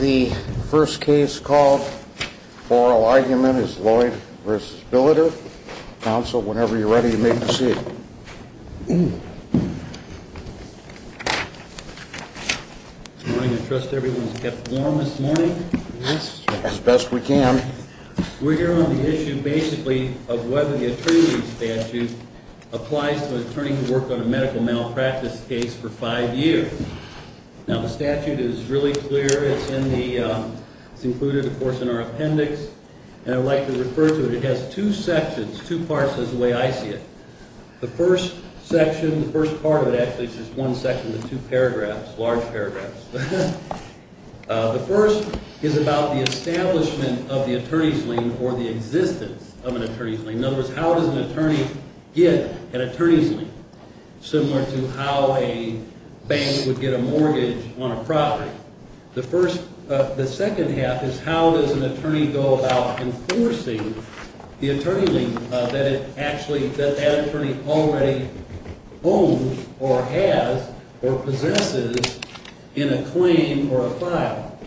The first case called for oral argument is Lloyd v. Billiter. Counsel, whenever you're ready, you may proceed. Good morning. I trust everyone's kept warm this morning. Yes, sir. As best we can. We're here on the issue, basically, of whether the attorney statute applies to an attorney who worked on a medical malpractice case for five years. Now, the statute is really clear. It's included, of course, in our appendix, and I'd like to refer to it. It has two sections, two parts is the way I see it. The first section, the first part of it actually is just one section with two paragraphs, large paragraphs. The first is about the establishment of the attorney's lien or the existence of an attorney's lien. In other words, how does an attorney get an attorney's lien, similar to how a bank would get a mortgage on a property? The second half is how does an attorney go about enforcing the attorney lien that that attorney already owns or has or possesses in a claim or a file?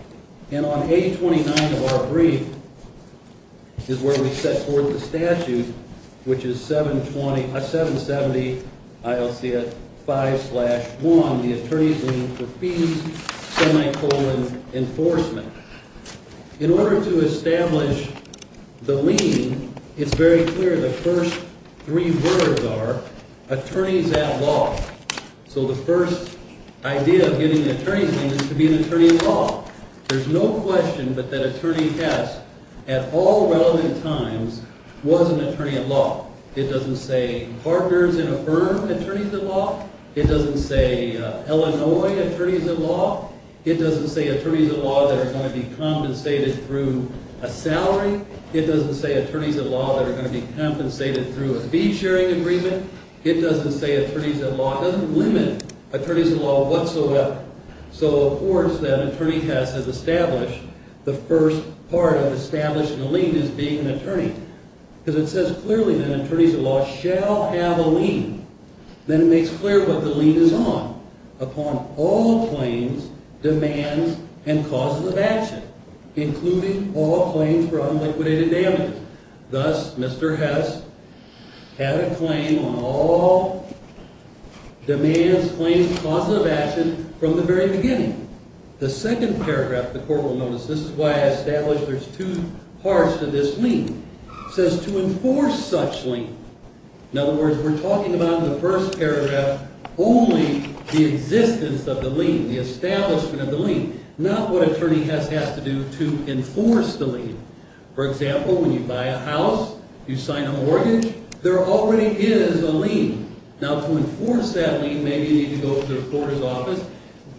And on page 29 of our brief is where we set forth the statute, which is 770-5-1, the attorney's lien for fees, semicolon, enforcement. In order to establish the lien, it's very clear the first three words are attorneys at law. So the first idea of getting an attorney's lien is to be an attorney at law. There's no question but that attorney has, at all relevant times, was an attorney at law. It doesn't say partners in a firm attorneys at law. It doesn't say Illinois attorneys at law. It doesn't say attorneys at law that are going to be compensated through a salary. It doesn't say attorneys at law that are going to be compensated through a fee-sharing agreement. It doesn't say attorneys at law. It doesn't limit attorneys at law whatsoever. So, of course, that attorney has to establish the first part of establishing a lien is being an attorney. Because it says clearly that attorneys at law shall have a lien. Then it makes clear what the lien is on, upon all claims, demands, and causes of action, including all claims for unliquidated damages. Thus, Mr. Hess had a claim on all demands, claims, and causes of action from the very beginning. The second paragraph, the court will notice, this is why I established there's two parts to this lien, says to enforce such lien. In other words, we're talking about in the first paragraph only the existence of the lien, the establishment of the lien. Not what attorney Hess has to do to enforce the lien. For example, when you buy a house, you sign a mortgage, there already is a lien. Now, to enforce that lien, maybe you need to go to the reporter's office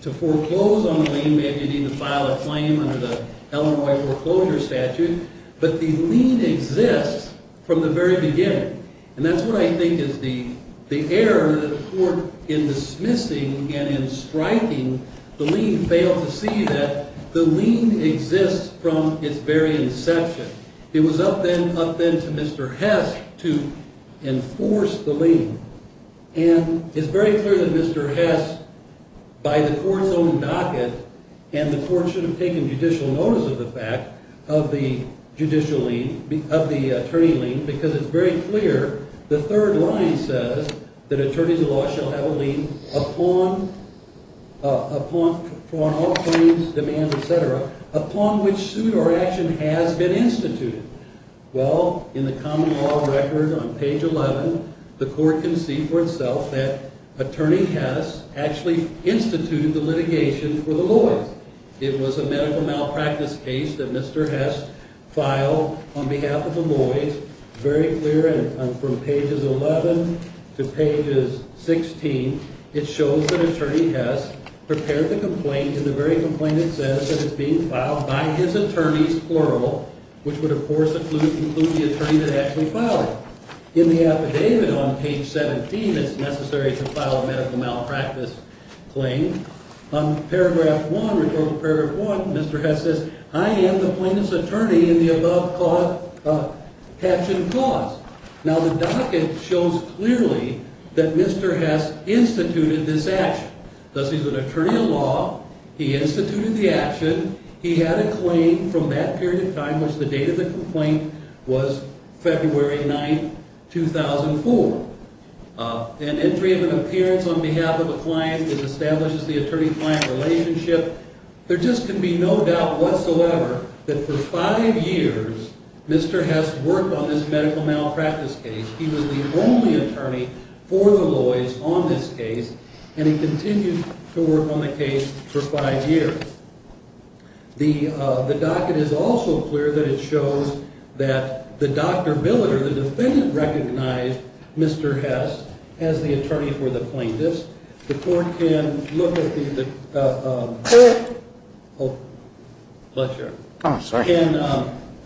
to foreclose on the lien. Maybe you need to file a claim under the Illinois foreclosure statute. But the lien exists from the very beginning. And that's what I think is the error that the court, in dismissing and in striking the lien, failed to see that the lien exists from its very inception. It was up then to Mr. Hess to enforce the lien. And it's very clear that Mr. Hess, by the court's own docket, and the court should have taken judicial notice of the fact of the attorney lien, because it's very clear the third line says that attorneys of law shall have a lien upon all claims, demands, et cetera, upon which suit or action has been instituted. Well, in the common law record on page 11, the court can see for itself that attorney Hess actually instituted the litigation for the Lloyds. It was a medical malpractice case that Mr. Hess filed on behalf of the Lloyds. Very clear, and from pages 11 to pages 16, it shows that attorney Hess prepared the complaint in the very complaint that says that it's being filed by his attorneys, plural, which would, of course, include the attorney that actually filed it. In the affidavit on page 17, it's necessary to file a medical malpractice claim. On paragraph 1, recorded paragraph 1, Mr. Hess says, I am the plaintiff's attorney in the above action clause. Now, the docket shows clearly that Mr. Hess instituted this action. Thus, he's an attorney of law. He instituted the action. He had a claim from that period of time, which the date of the complaint was February 9, 2004. An entry of an appearance on behalf of a client that establishes the attorney-client relationship. There just can be no doubt whatsoever that for five years, Mr. Hess worked on this medical malpractice case. He was the only attorney for the Lloyds on this case, and he continued to work on the case for five years. The docket is also clear that it shows that the doctor, Miller, the defendant, recognized Mr. Hess as the attorney for the plaintiff's. The court can look at the, oh, bless you. Oh, sorry.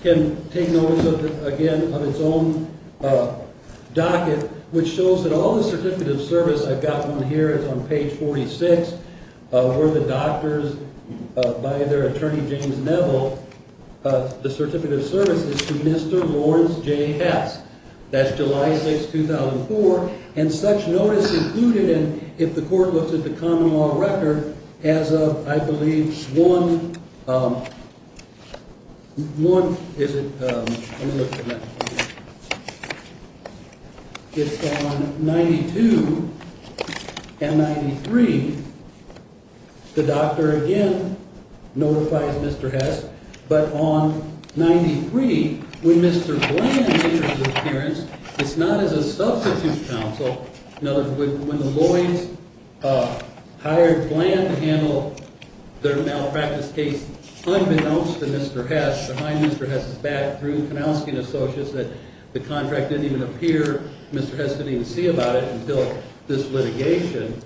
Can take notice, again, of its own docket, which shows that all the certificate of service, I've got one here. It's on page 46, where the doctor's, by their attorney, James Neville, the certificate of service is to Mr. Lawrence J. Hess. That's July 6, 2004. And such notice included in, if the court looks at the common law record, as of, I believe, 1 – let me look at that. It's on 92 and 93. The doctor, again, notifies Mr. Hess. But on 93, when Mr. Bland enters his appearance, it's not as a substitute counsel. In other words, when the Lloyds hired Bland to handle their malpractice case unbeknownst to Mr. Hess, behind Mr. Hess's back, through Kowalski and associates, that the contract didn't even appear. Mr. Hess didn't even see about it until this litigation.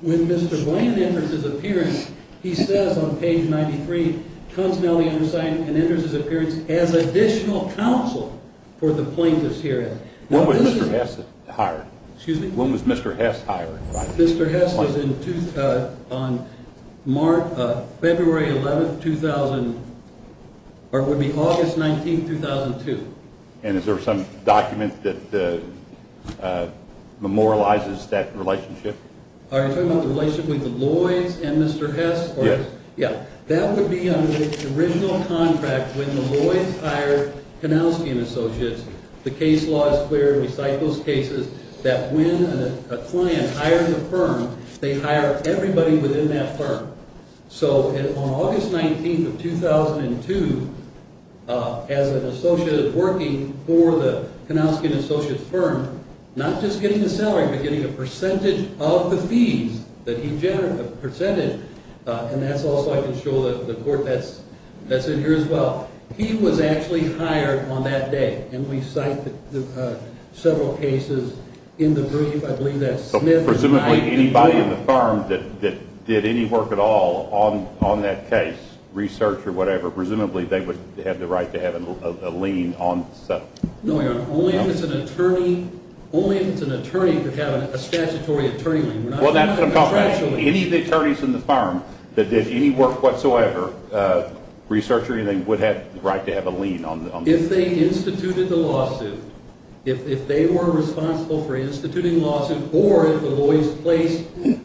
When Mr. Bland enters his appearance, he says on page 93, Consonality undersigned and enters his appearance as additional counsel for the plaintiffs herein. When was Mr. Hess hired? Excuse me? When was Mr. Hess hired? Mr. Hess was on February 11, 2000, or it would be August 19, 2002. And is there some document that memorializes that relationship? Are you talking about the relationship with the Lloyds and Mr. Hess? Yes. That would be under the original contract when the Lloyds hired Kowalski and associates. The case law is clear. We cite those cases that when a client hires a firm, they hire everybody within that firm. So on August 19, 2002, as an associate working for the Kowalski and associates firm, not just getting the salary, but getting a percentage of the fees that he presented, and that's also, I can show the court, that's in here as well. He was actually hired on that day, and we cite several cases in the brief. Presumably anybody in the firm that did any work at all on that case, research or whatever, presumably they would have the right to have a lien on the settlement. No, Your Honor. Only if it's an attorney could have a statutory attorney lien. Well, that's a problem. Any of the attorneys in the firm that did any work whatsoever, research or anything, would have the right to have a lien on the settlement. If they instituted the lawsuit, if they were responsible for instituting the lawsuit, or if the lawyers placed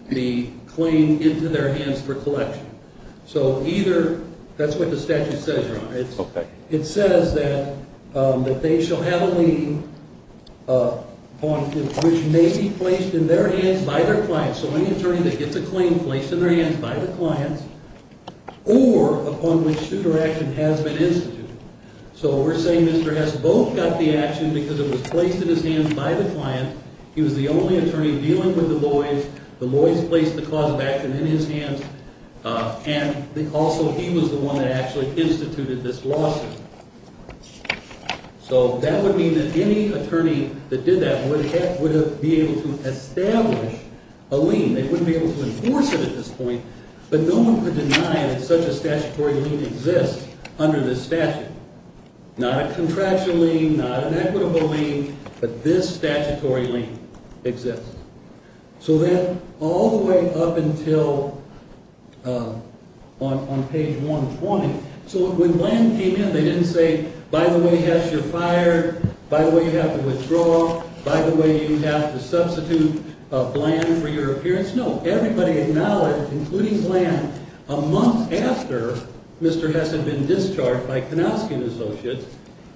the claim into their hands for collection. So either, that's what the statute says, Your Honor. Okay. It says that they shall have a lien upon which may be placed in their hands by their clients. So any attorney that gets a claim placed in their hands by the clients, or upon which suit or action has been instituted. So we're saying Mr. Hess both got the action because it was placed in his hands by the client. He was the only attorney dealing with the Lloyds. The Lloyds placed the cause of action in his hands, and also he was the one that actually instituted this lawsuit. So that would mean that any attorney that did that would be able to establish a lien. They wouldn't be able to enforce it at this point, but no one could deny that such a statutory lien exists under this statute. Not a contractual lien, not an equitable lien, but this statutory lien exists. So then all the way up until on page 120. So when Bland came in, they didn't say, By the way, Hess, you're fired. By the way, you have to withdraw. By the way, you have to substitute Bland for your appearance. No, everybody acknowledged, including Bland, a month after Mr. Hess had been discharged by Konowsky & Associates,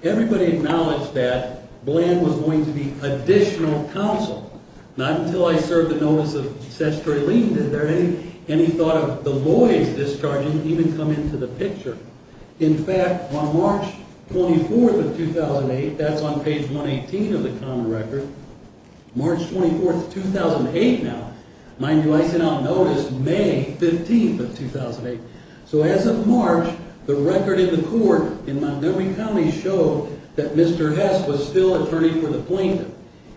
everybody acknowledged that Bland was going to be additional counsel. Not until I served the notice of statutory lien did any thought of the Lloyds discharging even come into the picture. In fact, on March 24th of 2008, that's on page 118 of the common record, March 24th of 2008 now, mind you, I sent out notice May 15th of 2008. So as of March, the record in the court in Montgomery County showed that Mr. Hess was still attorney for the plaintiff.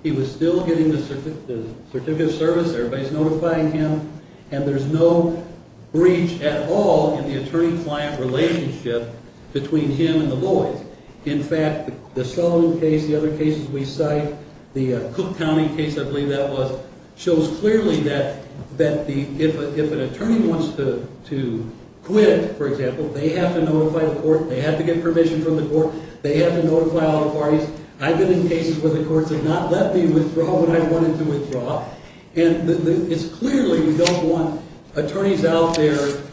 He was still getting the certificate of service, everybody's notifying him, and there's no breach at all in the attorney-client relationship between him and the Lloyds. In fact, the Sullivan case, the other cases we cite, the Cook County case, I believe that was, shows clearly that if an attorney wants to quit, for example, they have to notify the court, they have to get permission from the court, they have to notify all the parties. I've been in cases where the courts have not let me withdraw when I wanted to withdraw, and it's clearly we don't want attorneys out there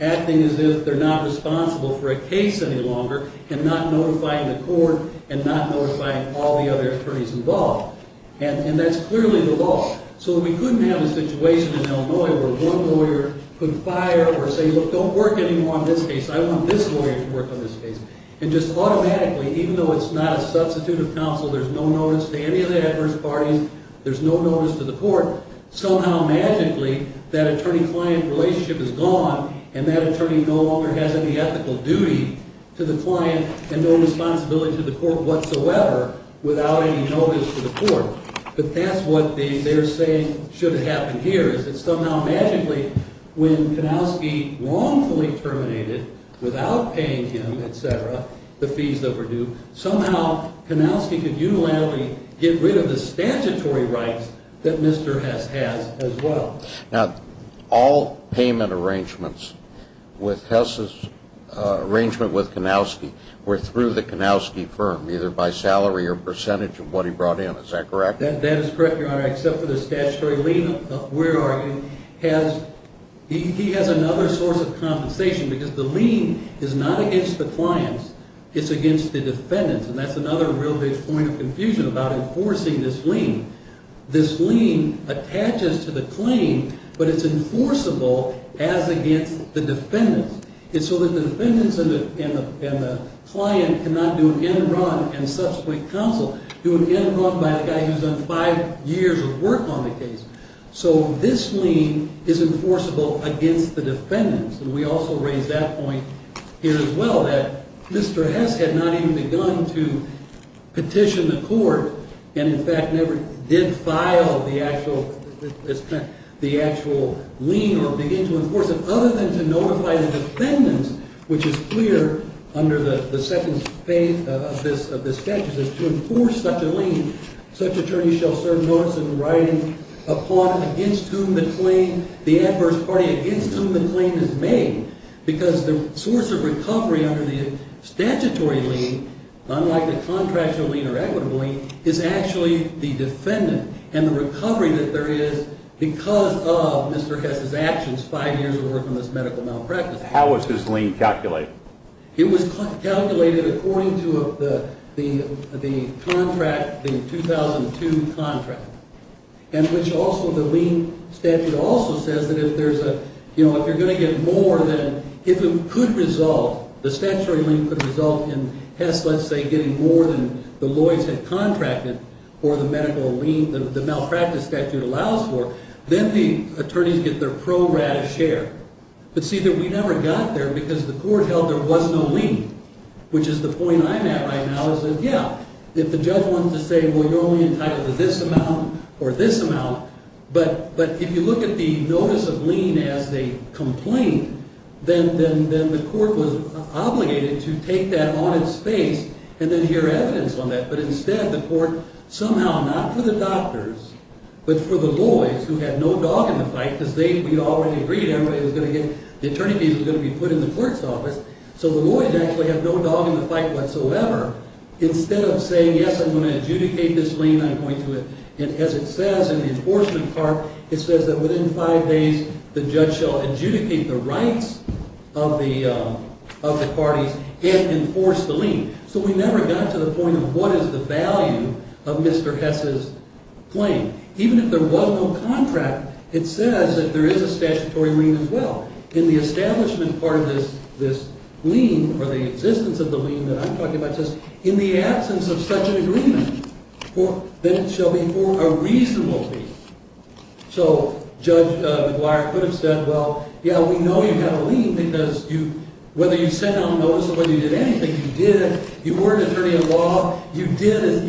acting as if they're not responsible for a case any longer and not notifying the court and not notifying all the other attorneys involved. And that's clearly the law. So we couldn't have a situation in Illinois where one lawyer could fire or say, look, don't work anymore on this case, I want this lawyer to work on this case. And just automatically, even though it's not a substitute of counsel, there's no notice to any of the adverse parties, there's no notice to the court, somehow, magically, that attorney-client relationship is gone and that attorney no longer has any ethical duty to the client and no responsibility to the court whatsoever without any notice to the court. But that's what they're saying should have happened here, is that somehow, magically, when Kanowski wrongfully terminated, without paying him, et cetera, the fees that were due, somehow Kanowski could unilaterally get rid of the statutory rights that Mr. Hess has as well. Now, all payment arrangements with Hess's arrangement with Kanowski were through the Kanowski firm, either by salary or percentage of what he brought in. Is that correct? That is correct, Your Honor, except for the statutory lien of where he has another source of compensation because the lien is not against the clients, it's against the defendants. And that's another real big point of confusion about enforcing this lien. This lien attaches to the claim, but it's enforceable as against the defendants. It's so that the defendants and the client cannot do an end run and subsequent counsel do an end run by the guy who's done five years of work on the case. So this lien is enforceable against the defendants. And we also raise that point here as well, that Mr. Hess had not even begun to petition the court and, in fact, never did file the actual lien or begin to enforce it, other than to notify the defendants, which is clear under the second phase of this statute, that to enforce such a lien, such attorneys shall serve notice in writing upon against whom the claim, the adverse party against whom the claim is made because the source of recovery under the statutory lien, unlike the contractual lien or equitable lien, is actually the defendant and the recovery that there is because of Mr. Hess's actions, five years of work on this medical malpractice case. How was his lien calculated? It was calculated according to the contract, the 2002 contract, in which also the lien statute also says that if there's a, you know, if you're going to get more than, if it could result, the statutory lien could result in Hess, let's say, getting more than the lawyers had contracted for the medical lien, the malpractice statute allows for, then the attorneys get their pro rata share. But, see, we never got there because the court held there was no lien, which is the point I'm at right now is that, yeah, if the judge wants to say, well, you're only entitled to this amount or this amount, but if you look at the notice of lien as they complain, then the court was obligated to take that on its face and then hear evidence on that. But instead, the court somehow, not for the doctors, but for the lawyers who had no dog in the fight because we already agreed everybody was going to get, the attorney fees were going to be put in the court's office. So the lawyers actually have no dog in the fight whatsoever. Instead of saying, yes, I'm going to adjudicate this lien, I'm going to, and as it says in the enforcement part, it says that within five days, the judge shall adjudicate the rights of the parties and enforce the lien. So we never got to the point of what is the value of Mr. Hess's claim. Even if there was no contract, it says that there is a statutory lien as well. In the establishment part of this lien or the existence of the lien that I'm talking about says, in the absence of such an agreement, then it shall be for a reasonable fee. So Judge McGuire could have said, well, yeah, we know you've got a lien because you, whether you sent it on notice or whether you did anything, you did it. You were an attorney of law. You did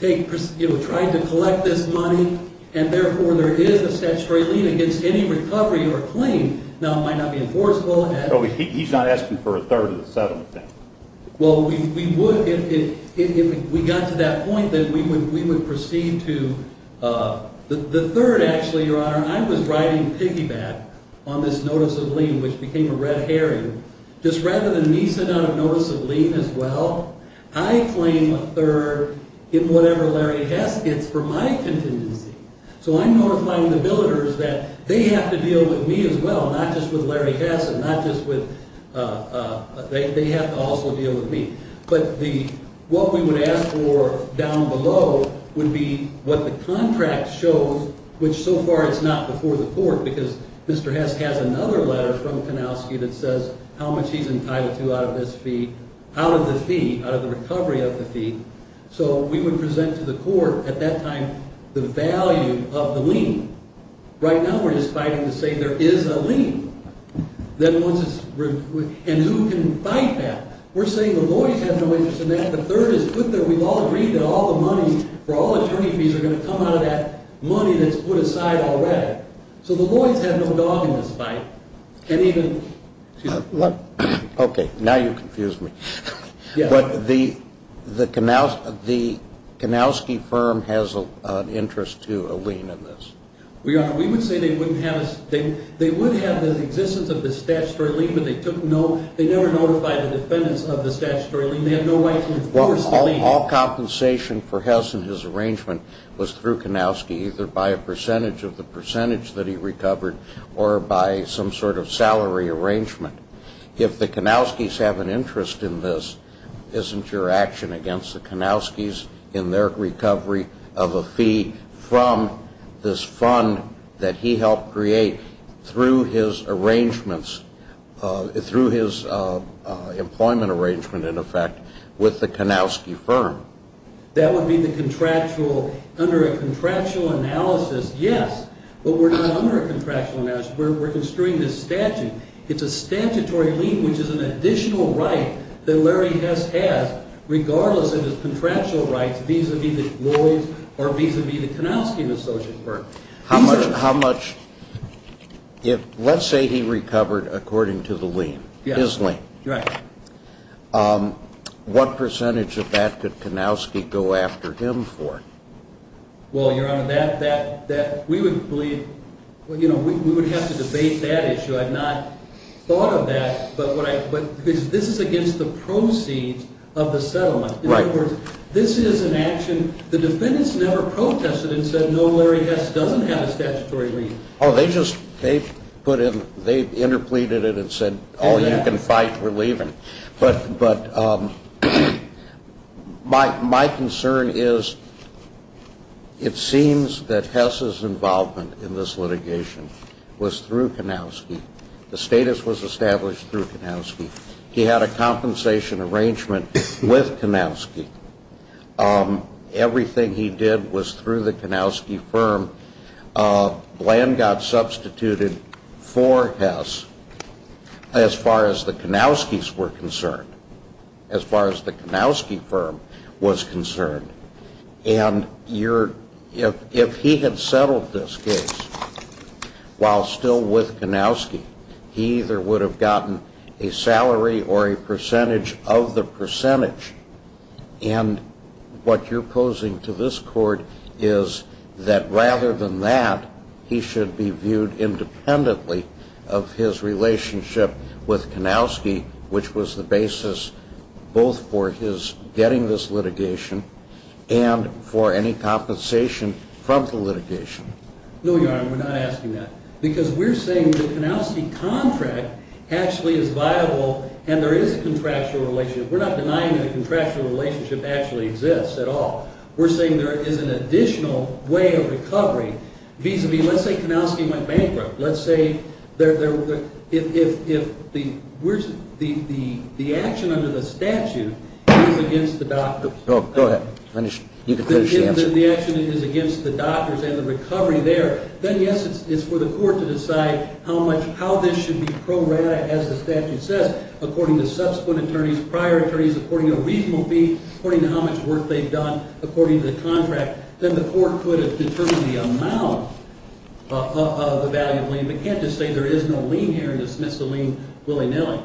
take, you know, try to collect this money, and therefore there is a statutory lien against any recovery or claim. Now, it might not be enforceable. But he's not asking for a third of the settlement then. Well, we would, if we got to that point, then we would proceed to the third, actually, Your Honor. I was riding piggyback on this notice of lien, which became a red herring. Just rather than me sending out a notice of lien as well, I claim a third in whatever Larry Hess gets for my contingency. So I'm notifying the billeters that they have to deal with me as well, not just with Larry Hess, and not just with, they have to also deal with me. But the, what we would ask for down below would be what the contract shows, which so far it's not before the court because Mr. Hess has another letter from Kanowski that says how much he's entitled to out of this fee, out of the fee, out of the recovery of the fee. So we would present to the court at that time the value of the lien. Right now we're just fighting to say there is a lien. Then once it's, and who can fight that? We're saying the Lloyds have no interest in that. The third is put there. We've all agreed that all the money for all attorney fees are going to come out of that money that's put aside already. So the Lloyds have no dog in this fight, can't even. Okay, now you confused me. But the Kanowski firm has an interest to a lien in this. We would say they wouldn't have, they would have the existence of the statutory lien, but they took no, they never notified the defendants of the statutory lien. They have no right to enforce the lien. All compensation for Hess and his arrangement was through Kanowski, either by a percentage of the percentage that he recovered or by some sort of salary arrangement. If the Kanowskis have an interest in this, isn't your action against the Kanowskis in their recovery of a fee from this fund that he helped create through his arrangements, through his employment arrangement, in effect, with the Kanowski firm? That would be the contractual, under a contractual analysis, yes. But we're not under a contractual analysis. We're construing this statute. It's a statutory lien, which is an additional right that Larry Hess has, regardless of his contractual rights vis-à-vis the Lloyds or vis-à-vis the Kanowski and his associates firm. Let's say he recovered according to the lien, his lien. Right. What percentage of that could Kanowski go after him for? Well, Your Honor, we would have to debate that issue. I've not thought of that. But this is against the proceeds of the settlement. In other words, this is an action. The defendants never protested and said, no, Larry Hess doesn't have a statutory lien. Oh, they just put in, they interpleaded it and said, oh, you can fight, we're leaving. But my concern is it seems that Hess's involvement in this litigation was through Kanowski. The status was established through Kanowski. He had a compensation arrangement with Kanowski. Everything he did was through the Kanowski firm. Bland got substituted for Hess as far as the Kanowskis were concerned, as far as the Kanowski firm was concerned. And if he had settled this case while still with Kanowski, he either would have gotten a salary or a percentage of the percentage. And what you're posing to this court is that rather than that, he should be viewed independently of his relationship with Kanowski, which was the basis both for his getting this litigation and for any compensation from the litigation. No, Your Honor, we're not asking that. Because we're saying the Kanowski contract actually is viable and there is a contractual relationship. We're not denying that a contractual relationship actually exists at all. We're saying there is an additional way of recovery vis-a-vis, let's say Kanowski went bankrupt. Let's say if the action under the statute is against the doctors. Go ahead. You can finish the answer. If the action is against the doctors and the recovery there, then, yes, it's for the court to decide how this should be prorated, as the statute says, according to subsequent attorneys, prior attorneys, according to a reasonable fee, according to how much work they've done, according to the contract. Then the court would have determined the amount of the value of lien. But you can't just say there is no lien here and dismiss the lien willy-nilly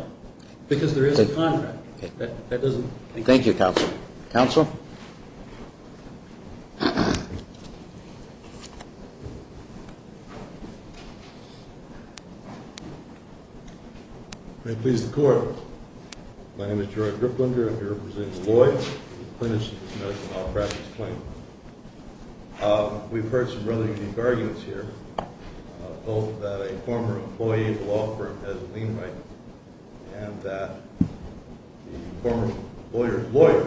because there is a contract. That doesn't make sense. Thank you, counsel. Counsel? May it please the Court. My name is Gerard Griplinder. I'm here representing Lloyd, the apprentice to this medical malpractice claim. We've heard some rather unique arguments here, both that a former employee at a law firm has a lien right and that the former lawyer's lawyer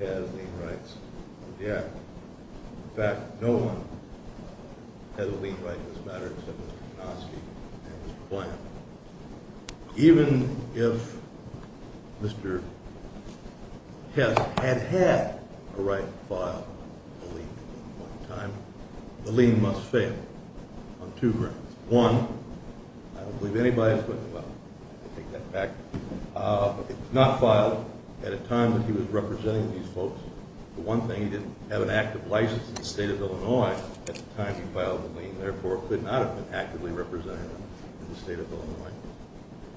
has lien rights. In fact, no one has a lien right in this matter except for Kanowski and his client. Even if Mr. Hess had had a right to file a lien at one time, the lien must fail on two grounds. One, I don't believe anybody is going to, well, I take that back. It was not filed at a time that he was representing these folks. The one thing, he didn't have an active license in the state of Illinois at the time he filed the lien, and therefore could not have been actively representing them in the state of Illinois.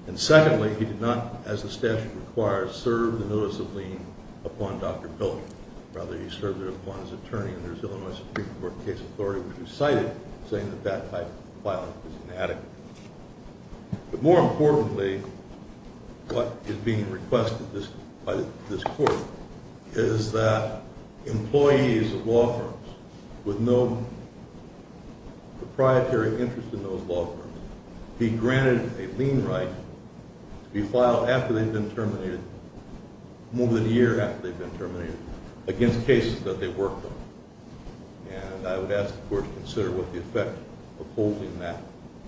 And secondly, he did not, as the statute requires, serve the notice of lien upon Dr. Pilking. Rather, he served it upon his attorney in the Illinois Supreme Court case authority, which we cited, saying that that type of filing was inadequate. But more importantly, what is being requested by this court is that employees of law firms with no proprietary interest in those law firms be granted a lien right to be filed after they've been terminated, more than a year after they've been terminated, against cases that they've worked on. And I would ask the court to consider what the effect of holding that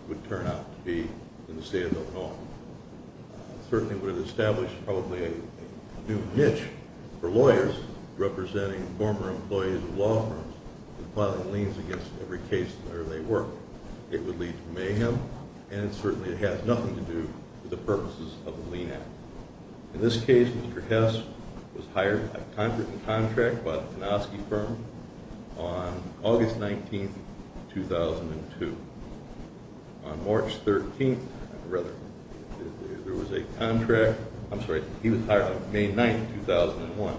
would turn out to be in the state of Illinois. It certainly would have established probably a new niche for lawyers representing former employees of law firms in filing liens against every case where they worked. It would lead to mayhem, and certainly it has nothing to do with the purposes of the lien act. In this case, Mr. Hess was hired by contract by the Konosky firm on August 19, 2002. On March 13, rather, there was a contract – I'm sorry, he was hired on May 9, 2001.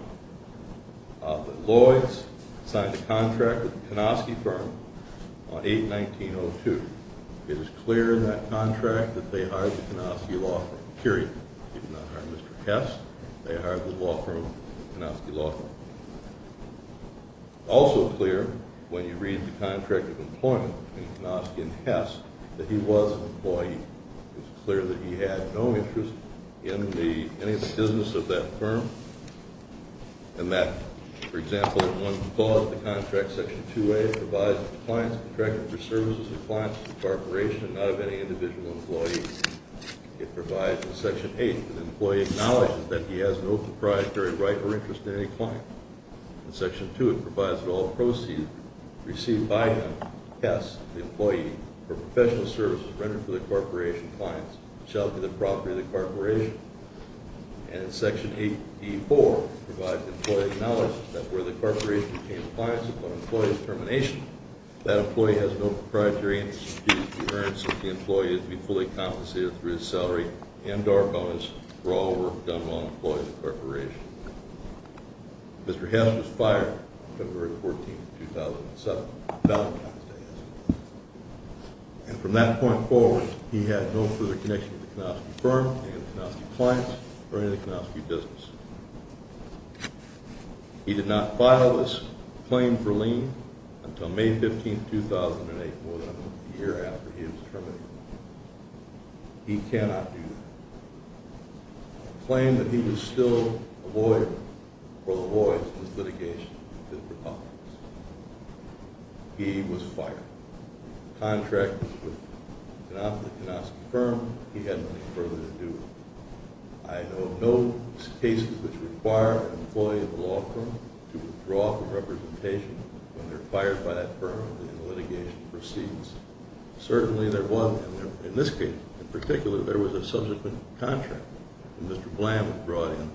But Lloyds signed a contract with the Konosky firm on 8-19-02. It is clear in that contract that they hired the Konosky law firm, period. He did not hire Mr. Hess. They hired the law firm, Konosky law firm. It's also clear when you read the contract of employment between Konosky and Hess that he was an employee. It's clear that he had no interest in the business of that firm. And that, for example, if one calls the contract section 2A, it provides that the client is contracted for services of the client's corporation and not of any individual employee. It provides in section 8 that the employee acknowledges that he has no proprietary right or interest in any client. In section 2, it provides that all proceeds received by Hess, the employee, for professional services rendered for the corporation's clients shall be the property of the corporation. And in section 8E4, it provides the employee acknowledges that were the corporation to obtain compliance upon employee's termination, that employee has no proprietary interest due to the coherence of the employee as being fully compensated through his salary and or bonus for all work done while an employee of the corporation. Mr. Hess was fired February 14, 2007, Valentine's Day, as it were. And from that point forward, he had no further connection with the Konosky firm, any of the Konosky clients, or any of the Konosky business. He did not file this claim for lien until May 15, 2008, more than a year after he was terminated. He cannot do that. The claim that he was still a lawyer for the boys in this litigation is preposterous. He was fired. The contract was with the Konosky firm. He had nothing further to do with it. I know of no cases which require an employee of the law firm to withdraw from representation when they're fired by that firm and the litigation proceeds. Certainly there wasn't. In this case, in particular, there was a subsequent contract that Mr. Bland brought in,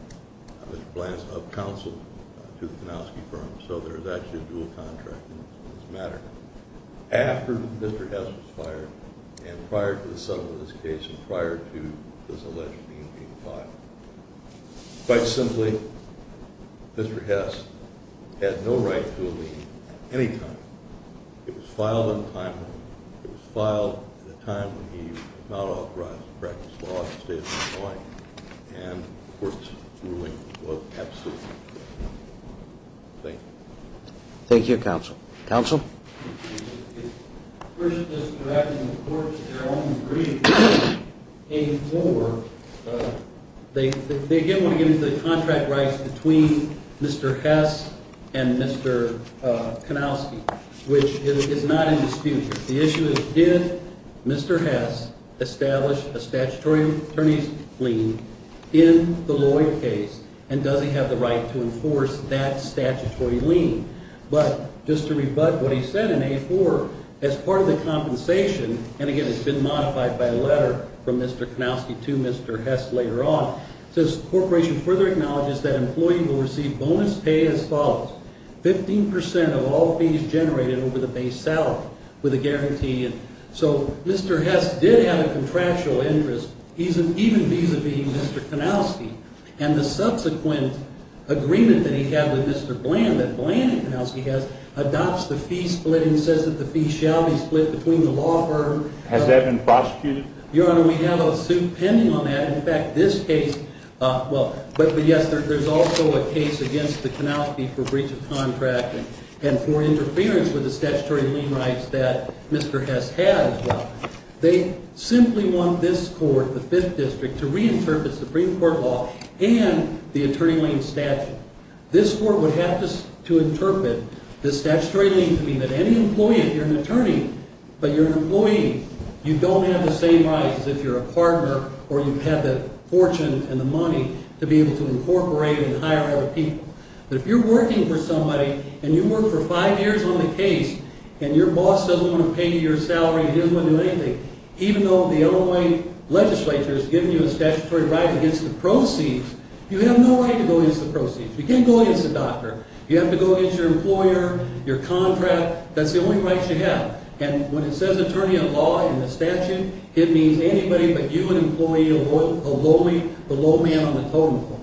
Mr. Bland's up-counsel to the Konosky firm. So there was actually a dual contract in this matter after Mr. Hess was fired and prior to the settlement of this case and prior to this alleged lien being filed. Quite simply, Mr. Hess had no right to a lien at any time. It was filed on time. It was filed at a time when he did not authorize the practice law in the state of Illinois, and the court's ruling was absolute. Thank you. Thank you, counsel. Counsel? First, just correcting the court to their own degree came forward. They again want to get into the contract rights between Mr. Hess and Mr. Konosky, which is not in dispute. The issue is did Mr. Hess establish a statutory attorney's lien in the Lloyd case, and does he have the right to enforce that statutory lien? But just to rebut what he said in A4, as part of the compensation, and again it's been modified by a letter from Mr. Konosky to Mr. Hess later on, it says the corporation further acknowledges that employees will receive bonus pay as follows, 15% of all fees generated over the base salary with a guarantee. So Mr. Hess did have a contractual interest, even vis-a-vis Mr. Konosky. And the subsequent agreement that he had with Mr. Bland, that Bland and Konosky had, adopts the fee split and says that the fee shall be split between the law firm. Has that been prosecuted? Your Honor, we have a suit pending on that. But yes, there's also a case against the Konosky for breach of contract and for interference with the statutory lien rights that Mr. Hess has. They simply want this court, the Fifth District, to reinterpret Supreme Court law and the attorney lien statute. This court would have to interpret the statutory lien to mean that any employee, if you're an attorney but you're an employee, you don't have the same rights as if you're a partner or you have the fortune and the money to be able to incorporate and hire other people. But if you're working for somebody and you work for five years on the case and your boss doesn't want to pay you your salary, he doesn't want to do anything, even though the Illinois legislature has given you a statutory right against the proceeds, you have no right to go against the proceeds. You can't go against the doctor. You have to go against your employer, your contract. That's the only rights you have. And when it says attorney of law in the statute, it means anybody but you, an employee, a lowly, the low man on the totem pole.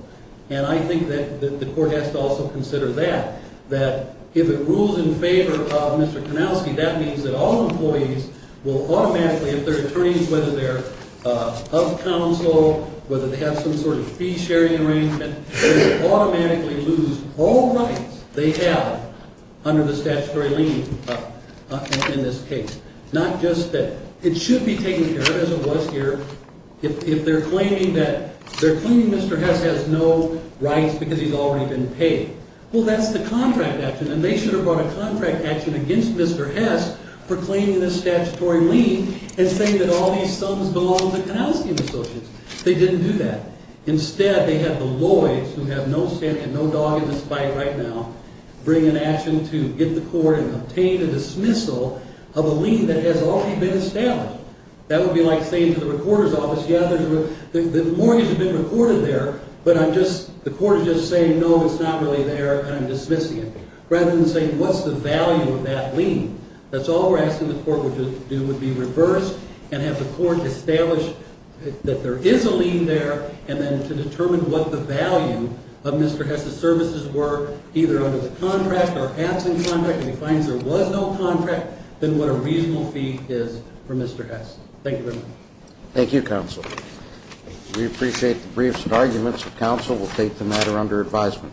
And I think that the court has to also consider that, that if it rules in favor of Mr. Konosky, that means that all employees will automatically, if they're attorneys, whether they're of counsel, whether they have some sort of fee-sharing arrangement, they will automatically lose all rights they have under the statutory lien in this case. Not just that. It should be taken care of, as it was here, if they're claiming that Mr. Hess has no rights because he's already been paid. Well, that's the contract action, and they should have brought a contract action against Mr. Hess for claiming this statutory lien and saying that all these sums belong to Konosky and Associates. They didn't do that. Instead, they had the lawyers, who have no say and no dog in this fight right now, bring an action to get the court and obtain a dismissal of a lien that has already been established. That would be like saying to the recorder's office, yeah, the mortgage has been recorded there, but the court is just saying, no, it's not really there, and I'm dismissing it, rather than saying, what's the value of that lien? That's all we're asking the court to do, would be reverse and have the court establish that there is a lien there, and then to determine what the value of Mr. Hess's services were, either under the contract or absent contract, and he finds there was no contract, then what a reasonable fee is for Mr. Hess. Thank you very much. Thank you, counsel. We appreciate the briefs and arguments. The counsel will take the matter under advisement.